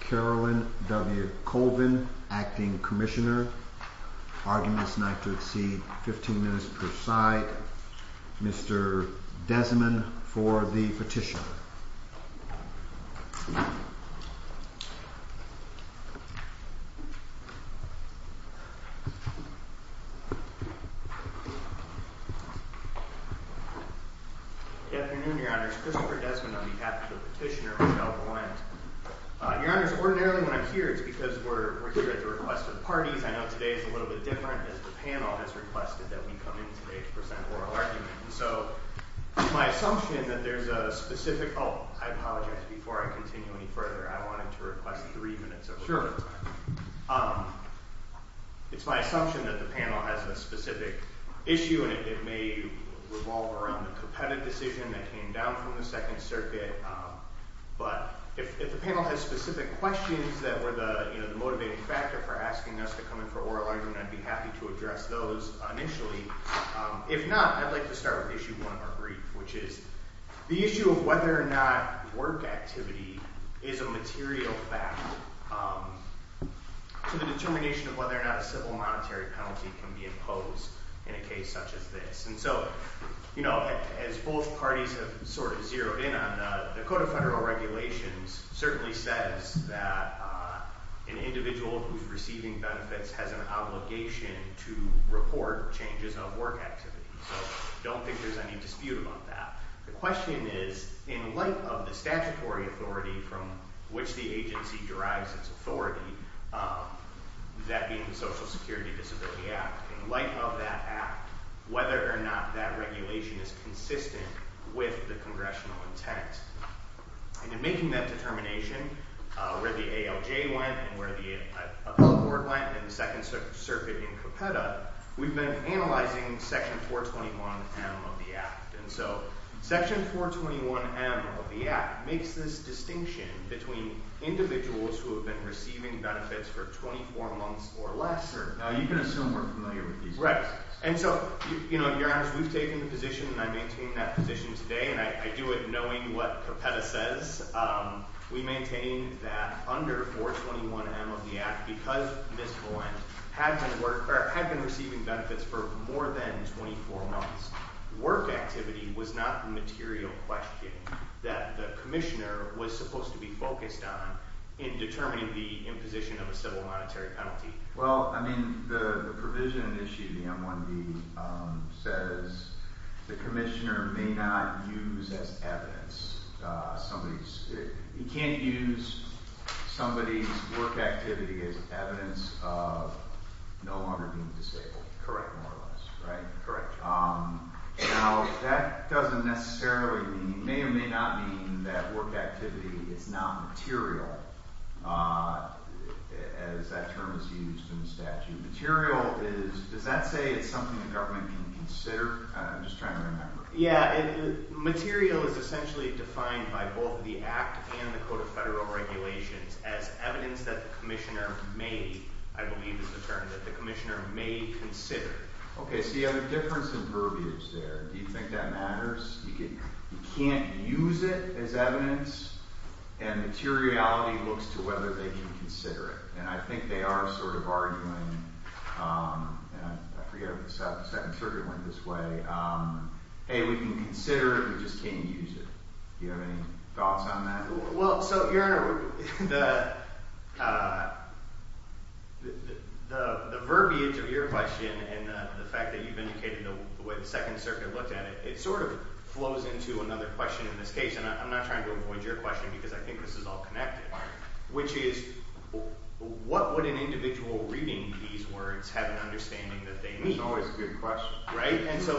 Carolyn W. Colvin, Acting Commissioner, arguing this night to exceed 15 minutes per side, Mr. Desmond for the petition. Good afternoon, Your Honors. Christopher Desmond on behalf of the petitioner, Raquel Valente. Your Honors, ordinarily when I'm here, it's because we're here at the request of parties. I know today is a little bit different, as the panel has requested that we come in today to present oral arguments. So, it's my assumption that there's a specific, oh, I apologize, before I continue any further, I wanted to request three minutes of oral time. It's my assumption that the panel has a specific issue, and it may revolve around the competitive decision that came down from the Second Circuit. But if the panel has specific questions that were the motivating factor for asking us to come in for oral argument, I'd be happy to address those initially. If not, I'd like to start with issue one of our brief, which is the issue of whether or not work activity is a material factor to the determination of whether or not a civil monetary penalty can be imposed in a case such as this. And so, as both parties have sort of zeroed in on, the Code of Federal Regulations certainly says that an individual who's receiving benefits has an obligation to report changes of work activity. So, I don't think there's any dispute about that. The question is, in light of the statutory authority from which the agency derives its authority, that being the Social Security Disability Act, in light of that act, whether or not that regulation is consistent with the congressional intent. And in making that determination, where the ALJ went and where the appellate board went in the Second Circuit in Copeta, we've been analyzing Section 421M of the act. And so, Section 421M of the act makes this distinction between individuals who have been receiving benefits for 24 months or less. Now, you can assume we're familiar with these. Right. And so, you know, Your Honor, we've taken the position, and I maintain that position today, and I do it knowing what Copeta says. We maintain that under 421M of the act, because Ms. Holland had been receiving benefits for more than 24 months, work activity was not the material question that the commissioner was supposed to be focused on in determining the imposition of a civil monetary penalty. Well, I mean, the provision in issue of the M-1B says the commissioner may not use as evidence somebody's – he can't use somebody's work activity as evidence of no longer being disabled. Correct. Correct, more or less, right? Correct. Now, that doesn't necessarily mean – may or may not mean that work activity is not material, as that term is used in the statute. Material is – does that say it's something the government can consider? I'm just trying to remember. Yeah, material is essentially defined by both the act and the Code of Federal Regulations as evidence that the commissioner may – I believe is the term – that the commissioner may consider. Okay, so you have a difference in verbiage there. Do you think that matters? You can't use it as evidence, and materiality looks to whether they can consider it, and I think they are sort of arguing – and I forget if the Second Circuit went this way – hey, we can consider it, we just can't use it. Do you have any thoughts on that? Well, so, Your Honor, the verbiage of your question and the fact that you've indicated the way the Second Circuit looked at it, it sort of flows into another question in this case, and I'm not trying to avoid your question because I think this is all connected, which is what would an individual reading these words have an understanding that they mean? That's always a good question. Right? And so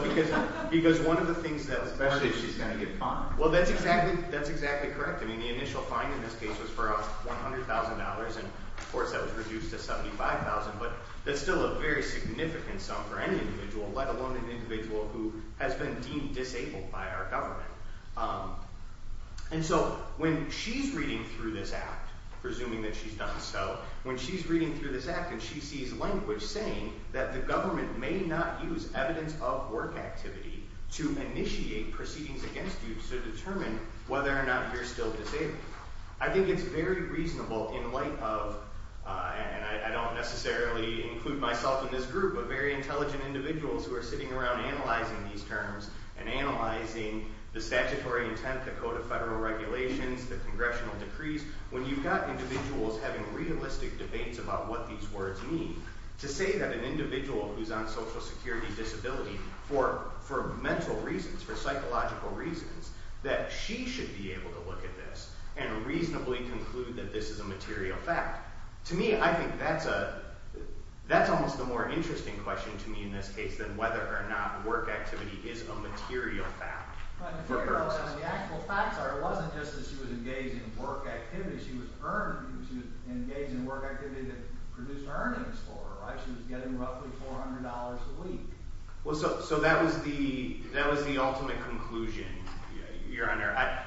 because one of the things that – Especially if she's going to get fined. Well, that's exactly correct. I mean, the initial fine in this case was for $100,000, and of course that was reduced to $75,000, but that's still a very significant sum for any individual, let alone an individual who has been deemed disabled by our government. And so when she's reading through this Act, presuming that she's done so, when she's reading through this Act and she sees language saying that the government may not use evidence of work activity to initiate proceedings against you to determine whether or not you're still disabled, I think it's very reasonable in light of – and I don't necessarily include myself in this group – but very intelligent individuals who are sitting around analyzing these terms and analyzing the statutory intent, the Code of Federal Regulations, the congressional decrees, when you've got individuals having realistic debates about what these words mean, to say that an individual who's on Social Security Disability for mental reasons, for psychological reasons, that she should be able to look at this and reasonably conclude that this is a material fact, to me, I think that's a – that's almost a more interesting question to me in this case than whether or not work activity is a material fact. But the actual facts are it wasn't just that she was engaged in work activity. She was earned – she was engaged in work activity that produced earnings for her, right? She was getting roughly $400 a week. Well, so that was the ultimate conclusion, Your Honor.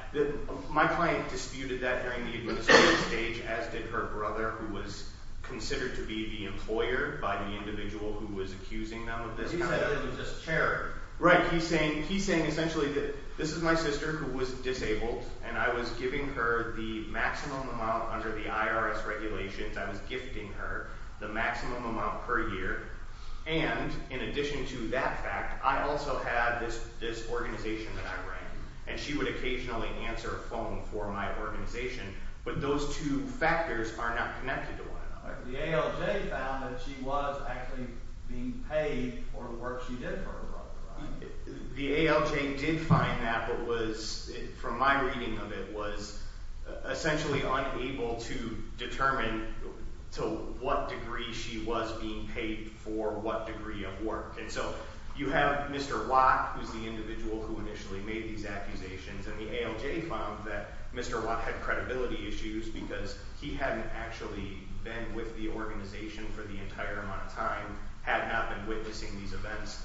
My client disputed that during the administrative stage, as did her brother, who was considered to be the employer by the individual who was accusing them of this kind of – He said it was just charity. Right. He's saying essentially that this is my sister who was disabled, and I was giving her the maximum amount under the IRS regulations. I was gifting her the maximum amount per year, and in addition to that fact, I also had this organization that I ran, and she would occasionally answer a phone for my organization, but those two factors are not connected to one another. The ALJ found that she was actually being paid for the work she did for her brother, right? The ALJ did find that but was, from my reading of it, was essentially unable to determine to what degree she was being paid for what degree of work. And so you have Mr. Watt, who's the individual who initially made these accusations, and the ALJ found that Mr. Watt had credibility issues because he hadn't actually been with the organization for the entire amount of time, had not been witnessing these events.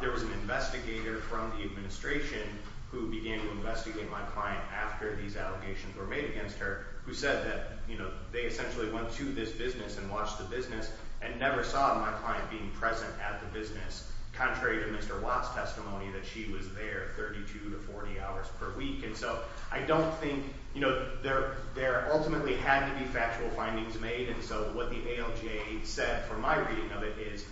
There was an investigator from the administration who began to investigate my client after these allegations were made against her who said that, you know, they essentially went to this business and watched the business and never saw my client being present at the business, contrary to Mr. Watt's testimony that she was there 32 to 40 hours per week. And so I don't think, you know, there ultimately had to be factual findings made, and so what the ALJ said from my reading of it is,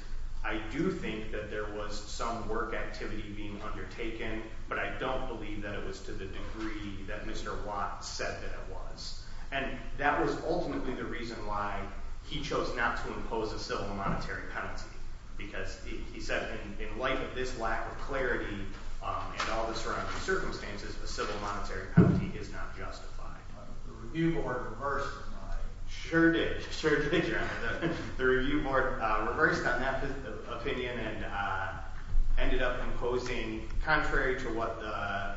I do think that there was some work activity being undertaken, but I don't believe that it was to the degree that Mr. Watt said that it was. And that was ultimately the reason why he chose not to impose a civil monetary penalty, because he said, in light of this lack of clarity and all the surrounding circumstances, a civil monetary penalty is not justified. The review board reversed on that opinion and ended up imposing, contrary to what the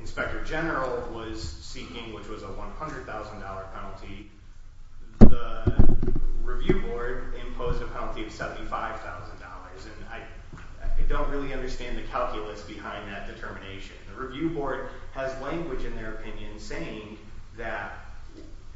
inspector general was seeking, which was a $100,000 penalty, the review board imposed a penalty of $75,000, and I don't really understand the calculus behind that determination. The review board has language in their opinion saying that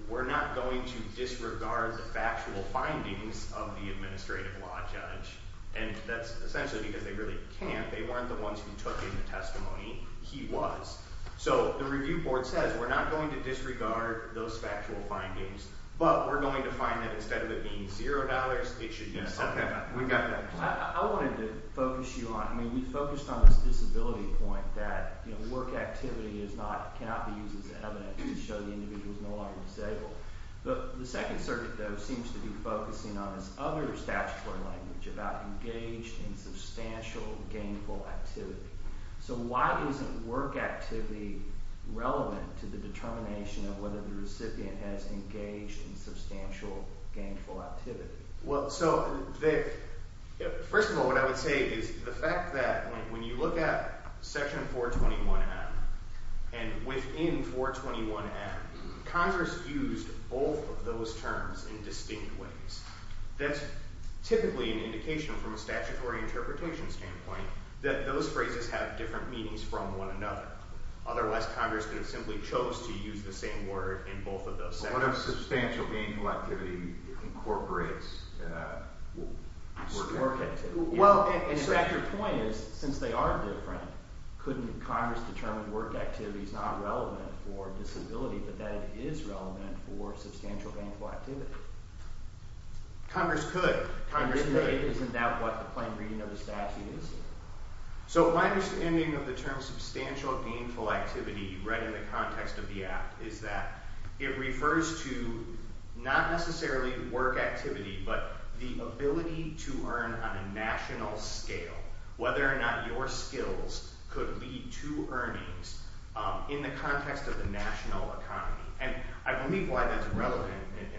we're not going to disregard the factual findings of the administrative law judge, and that's essentially because they really can't, they weren't the ones who took in the testimony, he was. So the review board says we're not going to disregard those factual findings, but we're going to find that instead of it being $0, it should be $75,000. I wanted to focus you on, I mean, we focused on this disability point that work activity cannot be used as evidence to show the individual is no longer disabled. The Second Circuit, though, seems to be focusing on this other statutory language about engaged in substantial gainful activity. So why isn't work activity relevant to the determination of whether the recipient has engaged in substantial gainful activity? Well, so first of all, what I would say is the fact that when you look at Section 421M and within 421M, Congress used both of those terms in distinct ways. That's typically an indication from a statutory interpretation standpoint that those phrases have different meanings from one another. Otherwise, Congress could have simply chose to use the same word in both of those sentences. What if substantial gainful activity incorporates work activity? Well, and so your point is, since they are different, couldn't Congress determine work activity is not relevant for disability, but that it is relevant for substantial gainful activity? Congress could. Isn't that what the plain reading of the statute is? So my understanding of the term substantial gainful activity read in the context of the Act is that it refers to not necessarily work activity, but the ability to earn on a national scale, whether or not your skills could lead to earnings in the context of the national economy. And I believe why that's relevant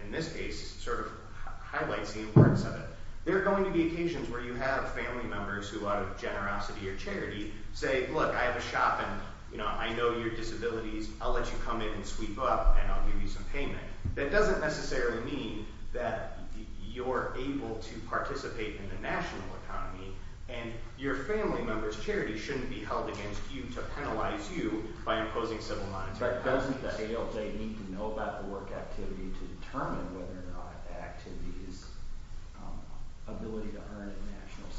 in this case sort of highlights the importance of it. There are going to be occasions where you have family members who, out of generosity or charity, say, look, I have a shop and I know your disabilities. I'll let you come in and sweep up, and I'll give you some payment. That doesn't necessarily mean that you're able to participate in the national economy, and your family members' charity shouldn't be held against you to penalize you by imposing civil monetary penalties. But doesn't the ALJ need to know about the work activity to determine whether or not the activity is ability to earn at national scale?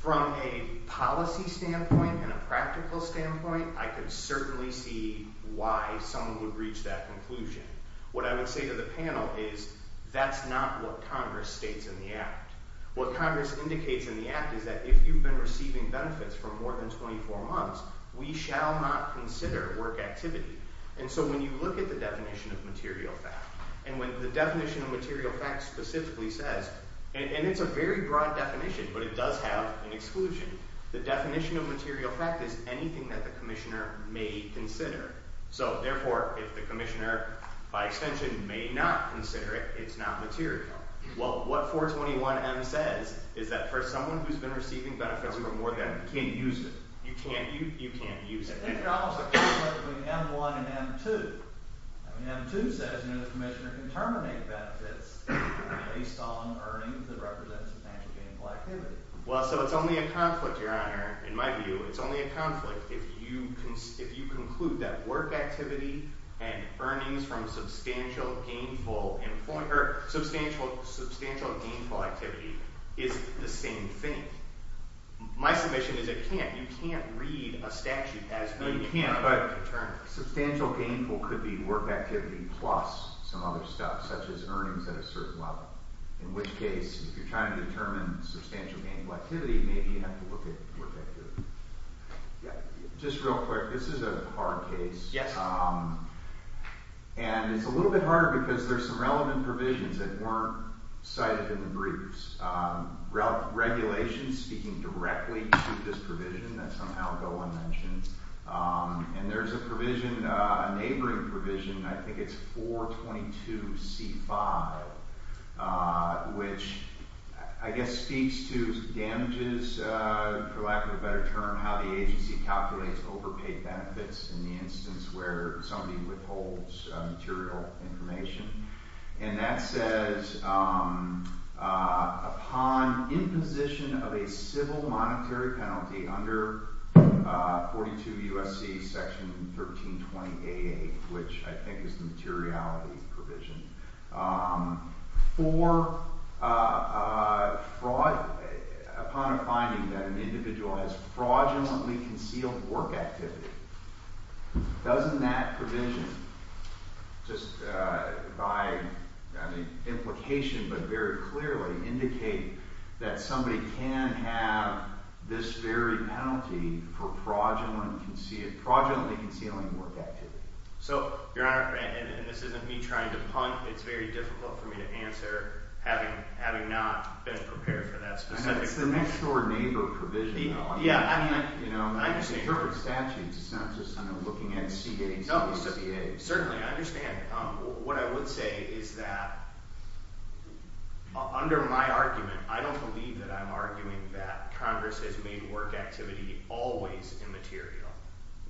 From a policy standpoint and a practical standpoint, I could certainly see why someone would reach that conclusion. What I would say to the panel is that's not what Congress states in the Act. What Congress indicates in the Act is that if you've been receiving benefits for more than 24 months, we shall not consider work activity. And so when you look at the definition of material fact, and when the definition of material fact specifically says, and it's a very broad definition, but it does have an exclusion. The definition of material fact is anything that the commissioner may consider. So, therefore, if the commissioner, by extension, may not consider it, it's not material. Well, what 421M says is that for someone who's been receiving benefits for more than – you can't use it. You can't use – you can't use it. It's almost a conflict between M1 and M2. I mean, M2 says, you know, the commissioner can terminate benefits based on earnings that represent substantial gainful activity. Well, so it's only a conflict, Your Honor, in my view. It's only a conflict if you conclude that work activity and earnings from substantial gainful – or substantial gainful activity is the same thing. My submission is it can't. You can't read a statute as being – No, you can't, but substantial gainful could be work activity plus some other stuff, such as earnings at a certain level. In which case, if you're trying to determine substantial gainful activity, maybe you have to look at work activity. Yeah. Just real quick. This is a hard case. Yes. And it's a little bit hard because there's some relevant provisions that weren't cited in the briefs. Regulations speaking directly to this provision that somehow Golan mentioned. And there's a provision, a neighboring provision, I think it's 422C5, which I guess speaks to damages, for lack of a better term, how the agency calculates overpaid benefits in the instance where somebody withholds material information. And that says upon imposition of a civil monetary penalty under 42 U.S.C. section 1320AA, which I think is the materiality provision, for fraud – upon a finding that an individual has fraudulently concealed work activity, doesn't that provision, just by implication but very clearly, indicate that somebody can have this very penalty for fraudulently concealing work activity? So, Your Honor, and this isn't me trying to punt. It's very difficult for me to answer, having not been prepared for that specific provision. It's the next-door neighbor provision, though. Yeah, I understand. You know, it's different statutes. It's not just, you know, looking at C.A.s and C.A.s. Certainly, I understand. What I would say is that, under my argument, I don't believe that I'm arguing that Congress has made work activity always immaterial.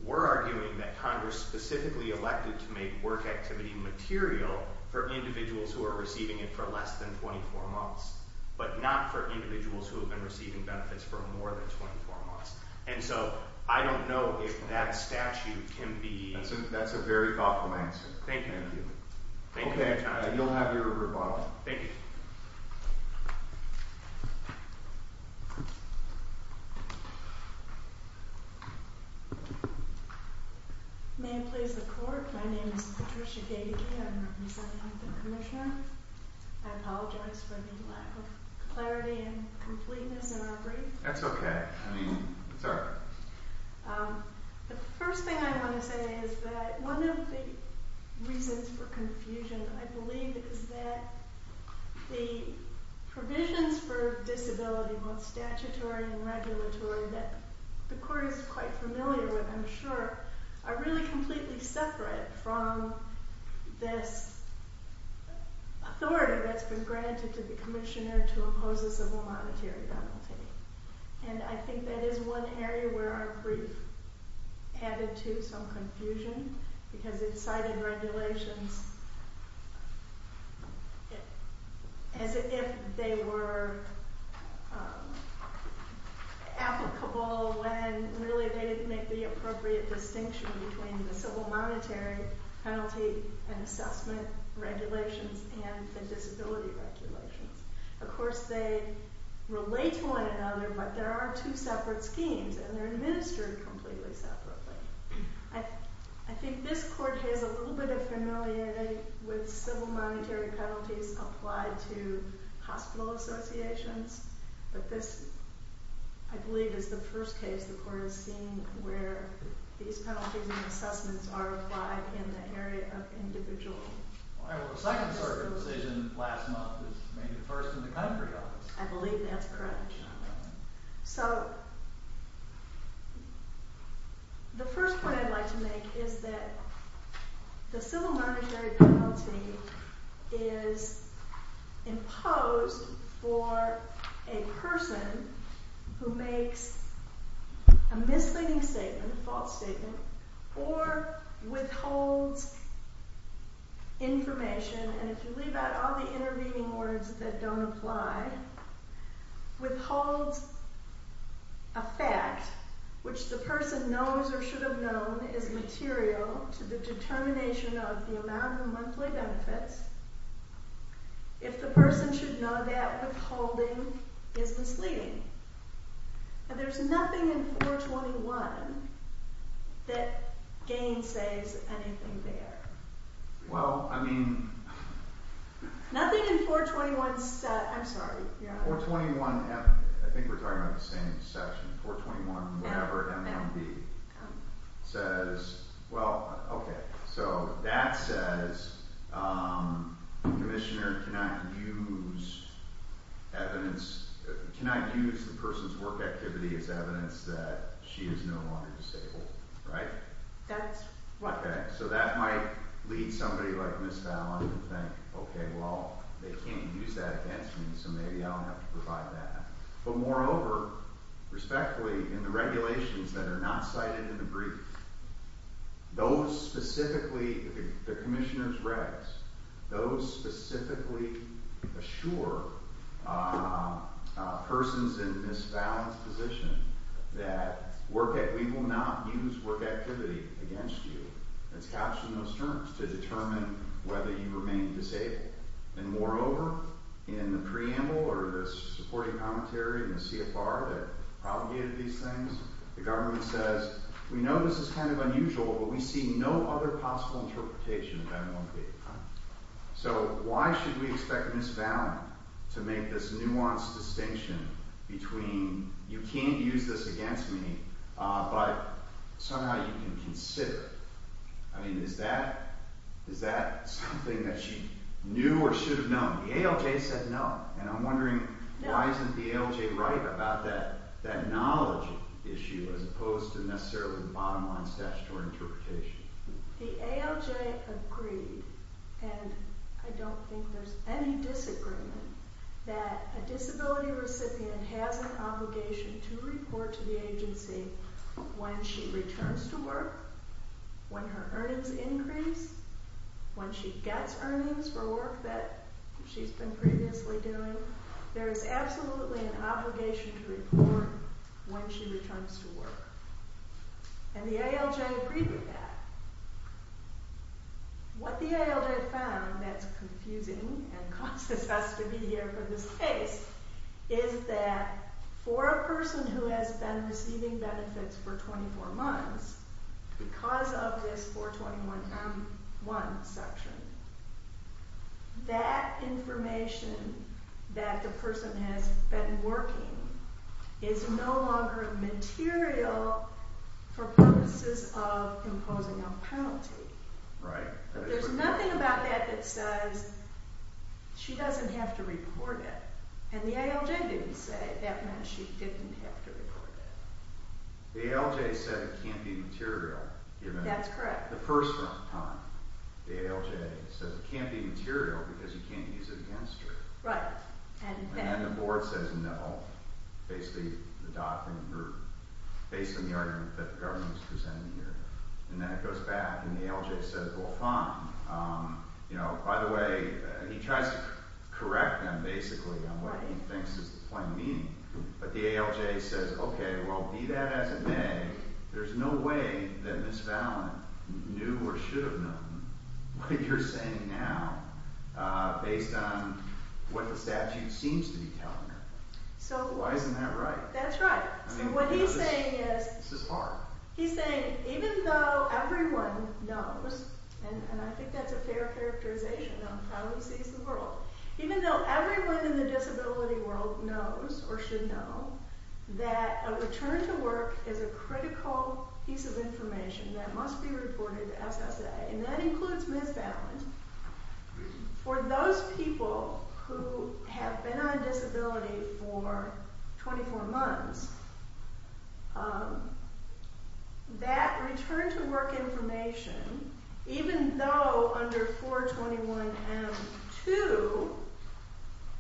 We're arguing that Congress specifically elected to make work activity material for individuals who are receiving it for less than 24 months, but not for individuals who have been receiving benefits for more than 24 months. And so, I don't know if that statute can be – That's a very thoughtful answer. Thank you. Thank you, Your Honor. Okay, you'll have your rebuttal. Thank you. May it please the Court, my name is Patricia Gagey. I'm representing the Commissioner. I apologize for the lack of clarity and completeness in our brief. That's okay. I mean, it's all right. The first thing I want to say is that one of the reasons for confusion, I believe, is that the provisions for disability, both statutory and regulatory, that the Court is quite familiar with, I'm sure, are really completely separate from this authority that's been granted to the Commissioner to impose a civil monetary penalty. And I think that is one area where our brief added to some confusion, because it cited regulations as if they were applicable when really they make the appropriate distinction between the civil monetary penalty and assessment regulations and the disability regulations. Of course, they relate to one another, but there are two separate schemes, and they're administered completely separately. I think this Court has a little bit of familiarity with civil monetary penalties applied to hospital associations, but this, I believe, is the first case the Court has seen where these penalties and assessments are applied in the area of individual. All right, well, the Second Circuit decision last month was maybe the first in the country, I guess. I believe that's correct. So the first point I'd like to make is that the civil monetary penalty is imposed for a person who makes a misleading statement, a false statement, or withholds information, and if you leave out all the intervening words that don't apply, withholds a fact which the person knows or should have known is material to the determination of the amount of monthly benefits, if the person should know that withholding is misleading. And there's nothing in 421 that gainsays anything there. Well, I mean... Nothing in 421... I'm sorry. 421, I think we're talking about the same section, 421, whatever, M1B, says... Well, okay, so that says the commissioner cannot use evidence, cannot use the person's work activity as evidence that she is no longer disabled, right? That's right. Okay, so that might lead somebody like Ms. Fallon to think, okay, well, they can't use that against me, so maybe I'll have to provide that. But moreover, respectfully, in the regulations that are not cited in the brief, those specifically, the commissioner's regs, those specifically assure persons in Ms. Fallon's position that we will not use work activity against you. It's captioned in those terms to determine whether you remain disabled. And moreover, in the preamble or the supporting commentary in the CFR that propagated these things, the government says, we know this is kind of unusual, but we see no other possible interpretation of M1B. So why should we expect Ms. Fallon to make this nuanced distinction between, you can't use this against me, but somehow you can consider it? I mean, is that something that she knew or should have known? The ALJ said no, and I'm wondering why isn't the ALJ right about that knowledge issue as opposed to necessarily the bottom line statutory interpretation? The ALJ agreed, and I don't think there's any disagreement, that a disability recipient has an obligation to report to the agency when she returns to work, when her earnings increase, when she gets earnings for work that she's been previously doing. There is absolutely an obligation to report when she returns to work. And the ALJ agreed with that. What the ALJ found that's confusing and causes us to be here for this case is that for a person who has been receiving benefits for 24 months, because of this 421M1 section, that information that the person has been working is no longer material for purposes of imposing a penalty. Right. There's nothing about that that says she doesn't have to report it. And the ALJ didn't say that meant she didn't have to report it. The ALJ said it can't be material. That's correct. At the first time, the ALJ said it can't be material because you can't use it against her. Right. And then the board says no, based on the argument that the government was presenting here. And then it goes back, and the ALJ says, well, fine. By the way, he tries to correct them, basically, on what he thinks is the plain meaning. But the ALJ says, okay, well, be that as it may, there's no way that Ms. Valin knew or should have known what you're saying now based on what the statute seems to be telling her. Why isn't that right? That's right. What he's saying is, he's saying, even though everyone knows, and I think that's a fair characterization of how he sees the world, even though everyone in the disability world knows or should know that a return to work is a critical piece of information that must be reported to SSA, and that includes Ms. Valin, for those people who have been on disability for 24 months, that return to work information, even though under 421M2,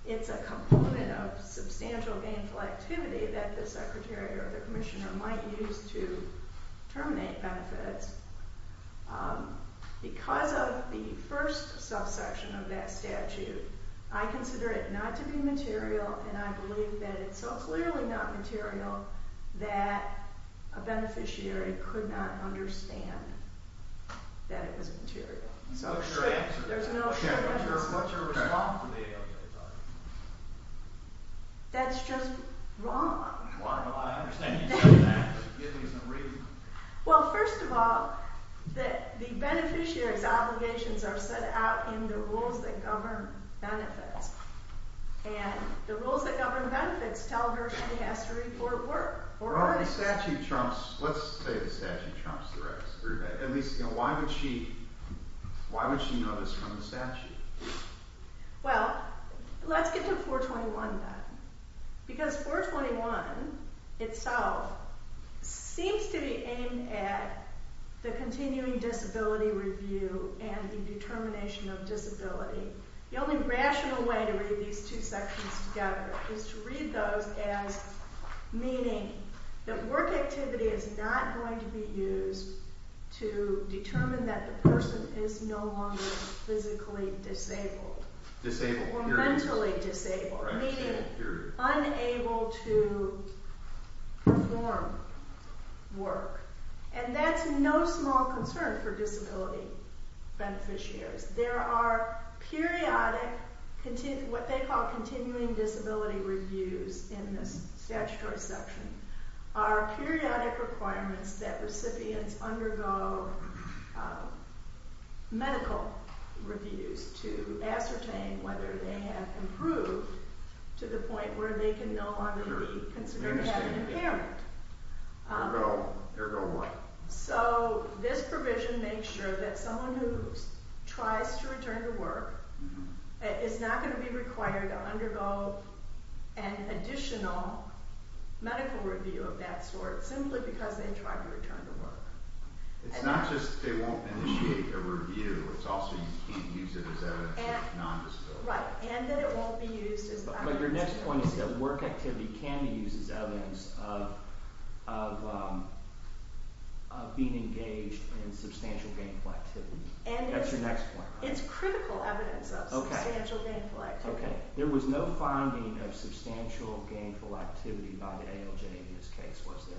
it's a component of substantial gainful activity that the secretary or the commissioner might use to terminate benefits, because of the first subsection of that statute, I consider it not to be material, and I believe that it's so clearly not material that a beneficiary could not understand that it was material. So it's true. What's your response to the ALJ's argument? That's just wrong. Well, I understand you said that, but give me some reason. Well, first of all, the beneficiary's obligations are set out in the rules that govern benefits, and the rules that govern benefits tell her she has to report work. Well, the statute trumps, let's say the statute trumps the rest. At least, why would she know this from the statute? Well, let's get to 421 then, because 421 itself seems to be aimed at the continuing disability review and the determination of disability. The only rational way to read these two sections together is to read those as meaning that work activity is not going to be used to determine that the person is no longer physically disabled or mentally disabled, meaning unable to perform work. And that's no small concern for disability beneficiaries. There are periodic, what they call continuing disability reviews in this statutory section, are periodic requirements that recipients undergo medical reviews to ascertain whether they have improved to the point where they can no longer be considered having impairment. Ergo what? So this provision makes sure that someone who tries to return to work is not going to be required to undergo an additional medical review of that sort simply because they tried to return to work. It's not just they won't initiate a review. It's also you can't use it as evidence that you're non-disabled. Right, and that it won't be used as evidence. of being engaged in substantial gainful activity. That's your next point. It's critical evidence of substantial gainful activity. Okay, there was no finding of substantial gainful activity by the ALJ in this case, was there?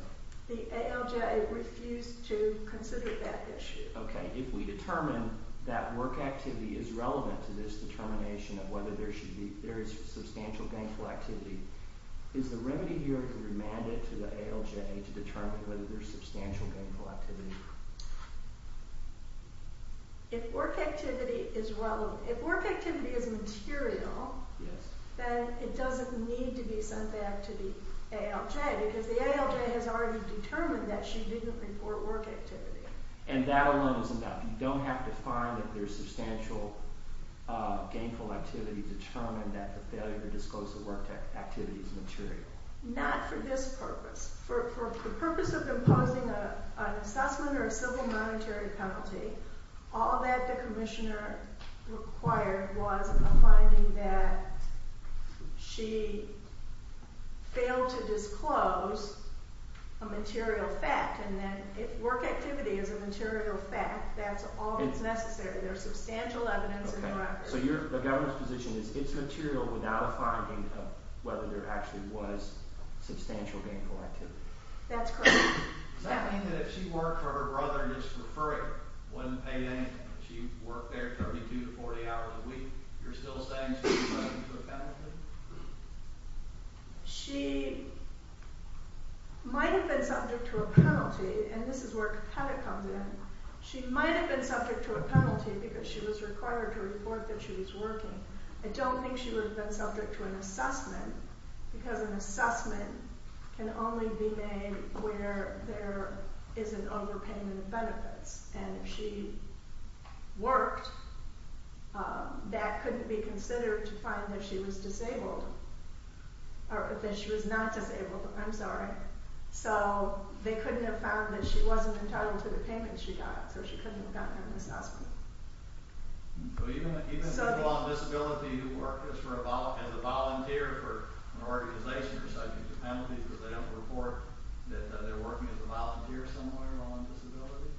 The ALJ refused to consider that issue. Okay, if we determine that work activity is relevant to this determination of whether there is substantial gainful activity, is the remedy here to remand it to the ALJ to determine whether there is substantial gainful activity? If work activity is relevant, if work activity is material, then it doesn't need to be sent back to the ALJ because the ALJ has already determined that she didn't report work activity. And that alone is enough. You don't have to find that there is substantial gainful activity to determine that the failure to disclose the work activity is material. Not for this purpose. For the purpose of imposing an assessment or a civil monetary penalty, all that the commissioner required was a finding that she failed to disclose a material fact. And then if work activity is a material fact, that's all that's necessary. There's substantial evidence in the record. So the governor's position is it's material without a finding of whether there actually was substantial gainful activity. That's correct. Does that mean that if she worked or her brother just referred her, wouldn't pay anything, she worked there 32 to 40 hours a week, you're still saying she was subject to a penalty? She might have been subject to a penalty, and this is where Cuttick comes in. She might have been subject to a penalty because she was required to report that she was working. I don't think she would have been subject to an assessment because an assessment can only be made where there is an overpayment of benefits. And if she worked, that couldn't be considered to find that she was disabled, or that she was not disabled, I'm sorry. So they couldn't have found that she wasn't entitled to the payment she got, so she couldn't have gotten an assessment. So even people on disability who work as a volunteer for an organization are subject to penalties because they don't report that they're working as a volunteer somewhere on disability?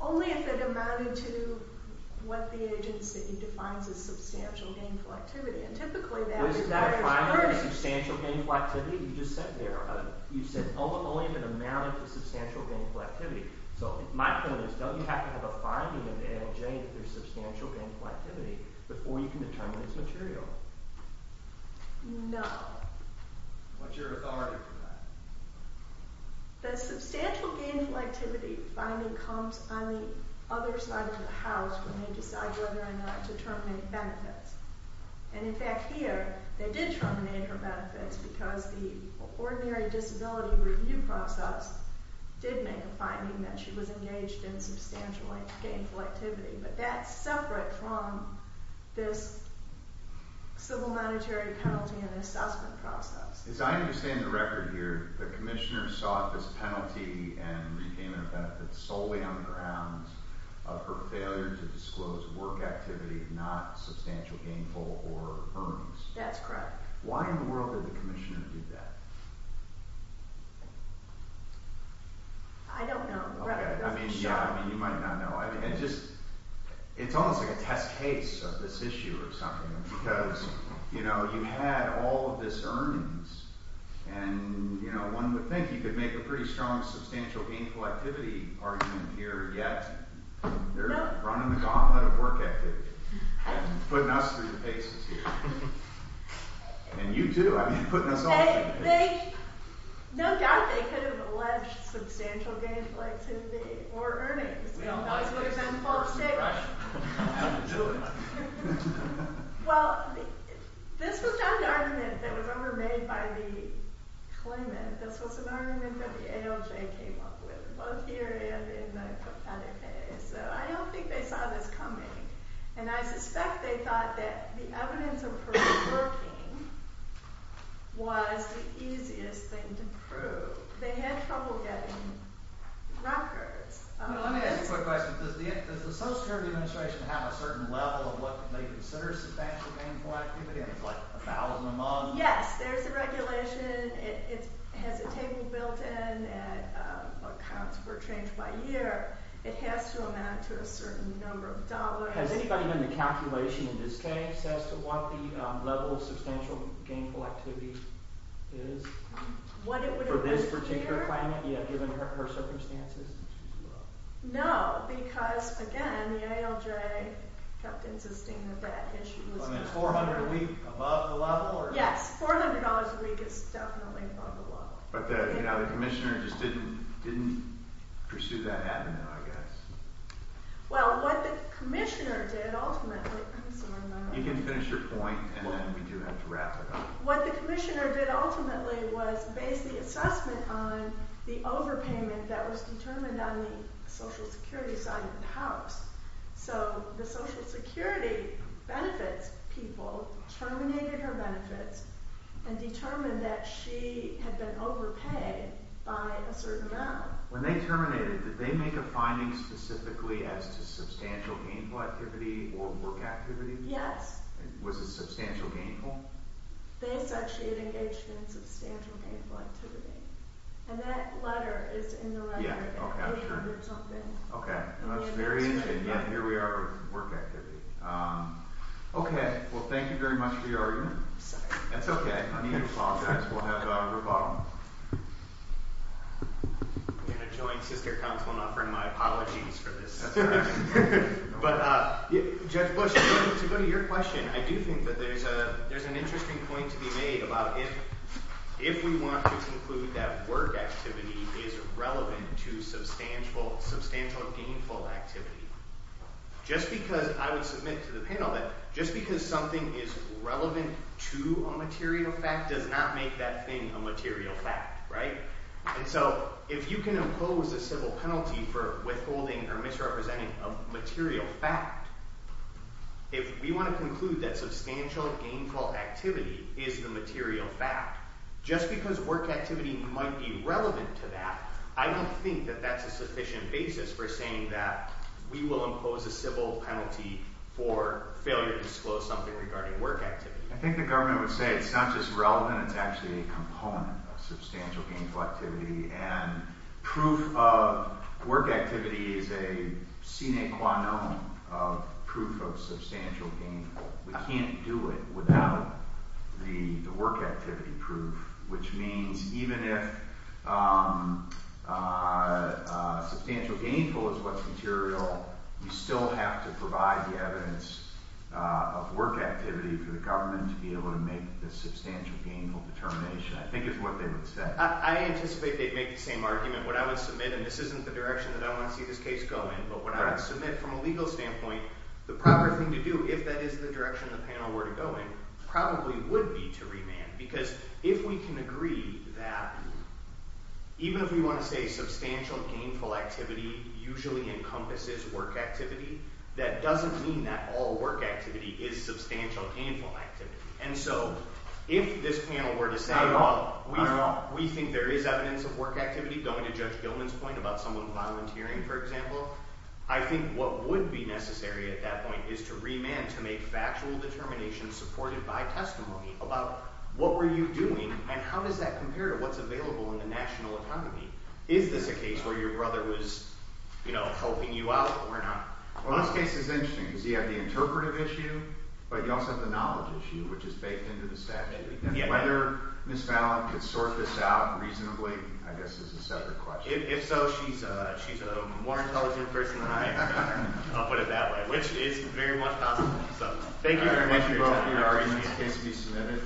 Only if it amounted to what the agency defines as substantial gainful activity, and typically that requires... Was that a finding of substantial gainful activity? You just said there, you said only if it amounted to substantial gainful activity. So my question is, don't you have to have a finding of A and J that there's substantial gainful activity before you can determine it's material? No. What's your authority for that? The substantial gainful activity finding comes on the other side of the house when they decide whether or not to terminate benefits. And in fact here, they did terminate her benefits because the ordinary disability review process did make a finding that she was engaged in substantial gainful activity. But that's separate from this civil monetary penalty and assessment process. As I understand the record here, the commissioner sought this penalty and regained her benefits solely on the grounds of her failure to disclose work activity, not substantial gainful or earnings. That's correct. Why in the world did the commissioner do that? I don't know. I mean, yeah, you might not know. It's almost like a test case of this issue or something because, you know, you had all of this earnings and, you know, one would think you could make a pretty strong substantial gainful activity argument here, yet they're running the gauntlet of work activity and putting us through the paces here. And you do. I mean, putting us all through the paces. No doubt they could have alleged substantial gainful activity or earnings. We don't like this. Right. We don't have to do it. Well, this was not an argument that was ever made by the claimant. This was an argument that the ALJ came up with, both here and in the pathetic case. So I don't think they saw this coming. And I suspect they thought that the evidence of her working was the easiest thing to prove. They had trouble getting records. Let me ask you a quick question. Does the Social Security Administration have a certain level of what they consider substantial gainful activity? I mean, it's like 1,000 a month. Yes, there's a regulation. It has a table built in and accounts were changed by year. It has to amount to a certain number of dollars. Has anybody done the calculation in this case as to what the level of substantial gainful activity is? What it would appear? For this particular claimant, given her circumstances? No, because, again, the ALJ kept insisting that that issue was considered. I mean, it's $400 a week above the level? Yes, $400 a week is definitely above the level. But the commissioner just didn't pursue that avenue, I guess. Well, what the commissioner did ultimately... You can finish your point, and then we do have to wrap it up. What the commissioner did ultimately was base the assessment on the overpayment that was determined on the Social Security side of the house. So the Social Security benefits people terminated her benefits and determined that she had been overpaid by a certain amount. When they terminated it, did they make a finding specifically as to substantial gainful activity or work activity? Yes. Was it substantial gainful? They said she had engaged in substantial gainful activity. And that letter is in the record. Okay, that's very interesting. Here we are with work activity. Okay, well, thank you very much for your argument. That's okay. I need to apologize. We'll have to have a rebuttal. I'm going to join Sister Council in offering my apologies for this. But Judge Bush, to go to your question, I do think that there's an interesting point to be made about if we want to conclude that work activity is relevant to substantial gainful activity, just because I would submit to the panel that just because something is relevant to a material fact does not make that thing a material fact, right? And so if you can impose a civil penalty for withholding or misrepresenting a material fact, if we want to conclude that substantial gainful activity is the material fact, just because work activity might be relevant to that, I don't think that that's a sufficient basis for saying that we will impose a civil penalty for failure to disclose something regarding work activity. I think the government would say it's not just relevant, it's actually a component of substantial gainful activity, and proof of work activity is a sine qua non of proof of substantial gainful. We can't do it without the work activity proof, which means even if substantial gainful is what's material, we still have to provide the evidence of work activity for the government to be able to make the substantial gainful determination, I think is what they would say. I anticipate they'd make the same argument. What I would submit, and this isn't the direction that I want to see this case go in, but what I would submit from a legal standpoint, the proper thing to do, if that is the direction the panel were to go in, probably would be to remand. Because if we can agree that even if we want to say substantial gainful activity usually encompasses work activity, that doesn't mean that all work activity is substantial gainful activity. And so if this panel were to say, we think there is evidence of work activity going to Judge Gilman's point about someone volunteering, for example, I think what would be necessary at that point is to remand to make factual determinations supported by testimony about what were you doing and how does that compare to what's available in the national economy. Is this a case where your brother was, you know, helping you out or not? Well, this case is interesting because you have the interpretive issue, but you also have the knowledge issue, which is baked into the statute. Whether Ms. Fallon could sort this out reasonably, I guess, is a separate question. If so, she's a more intelligent person than I am, Connor. I'll put it that way, which is very much possible. Thank you very much, you both, for your arguments. The case will be submitted.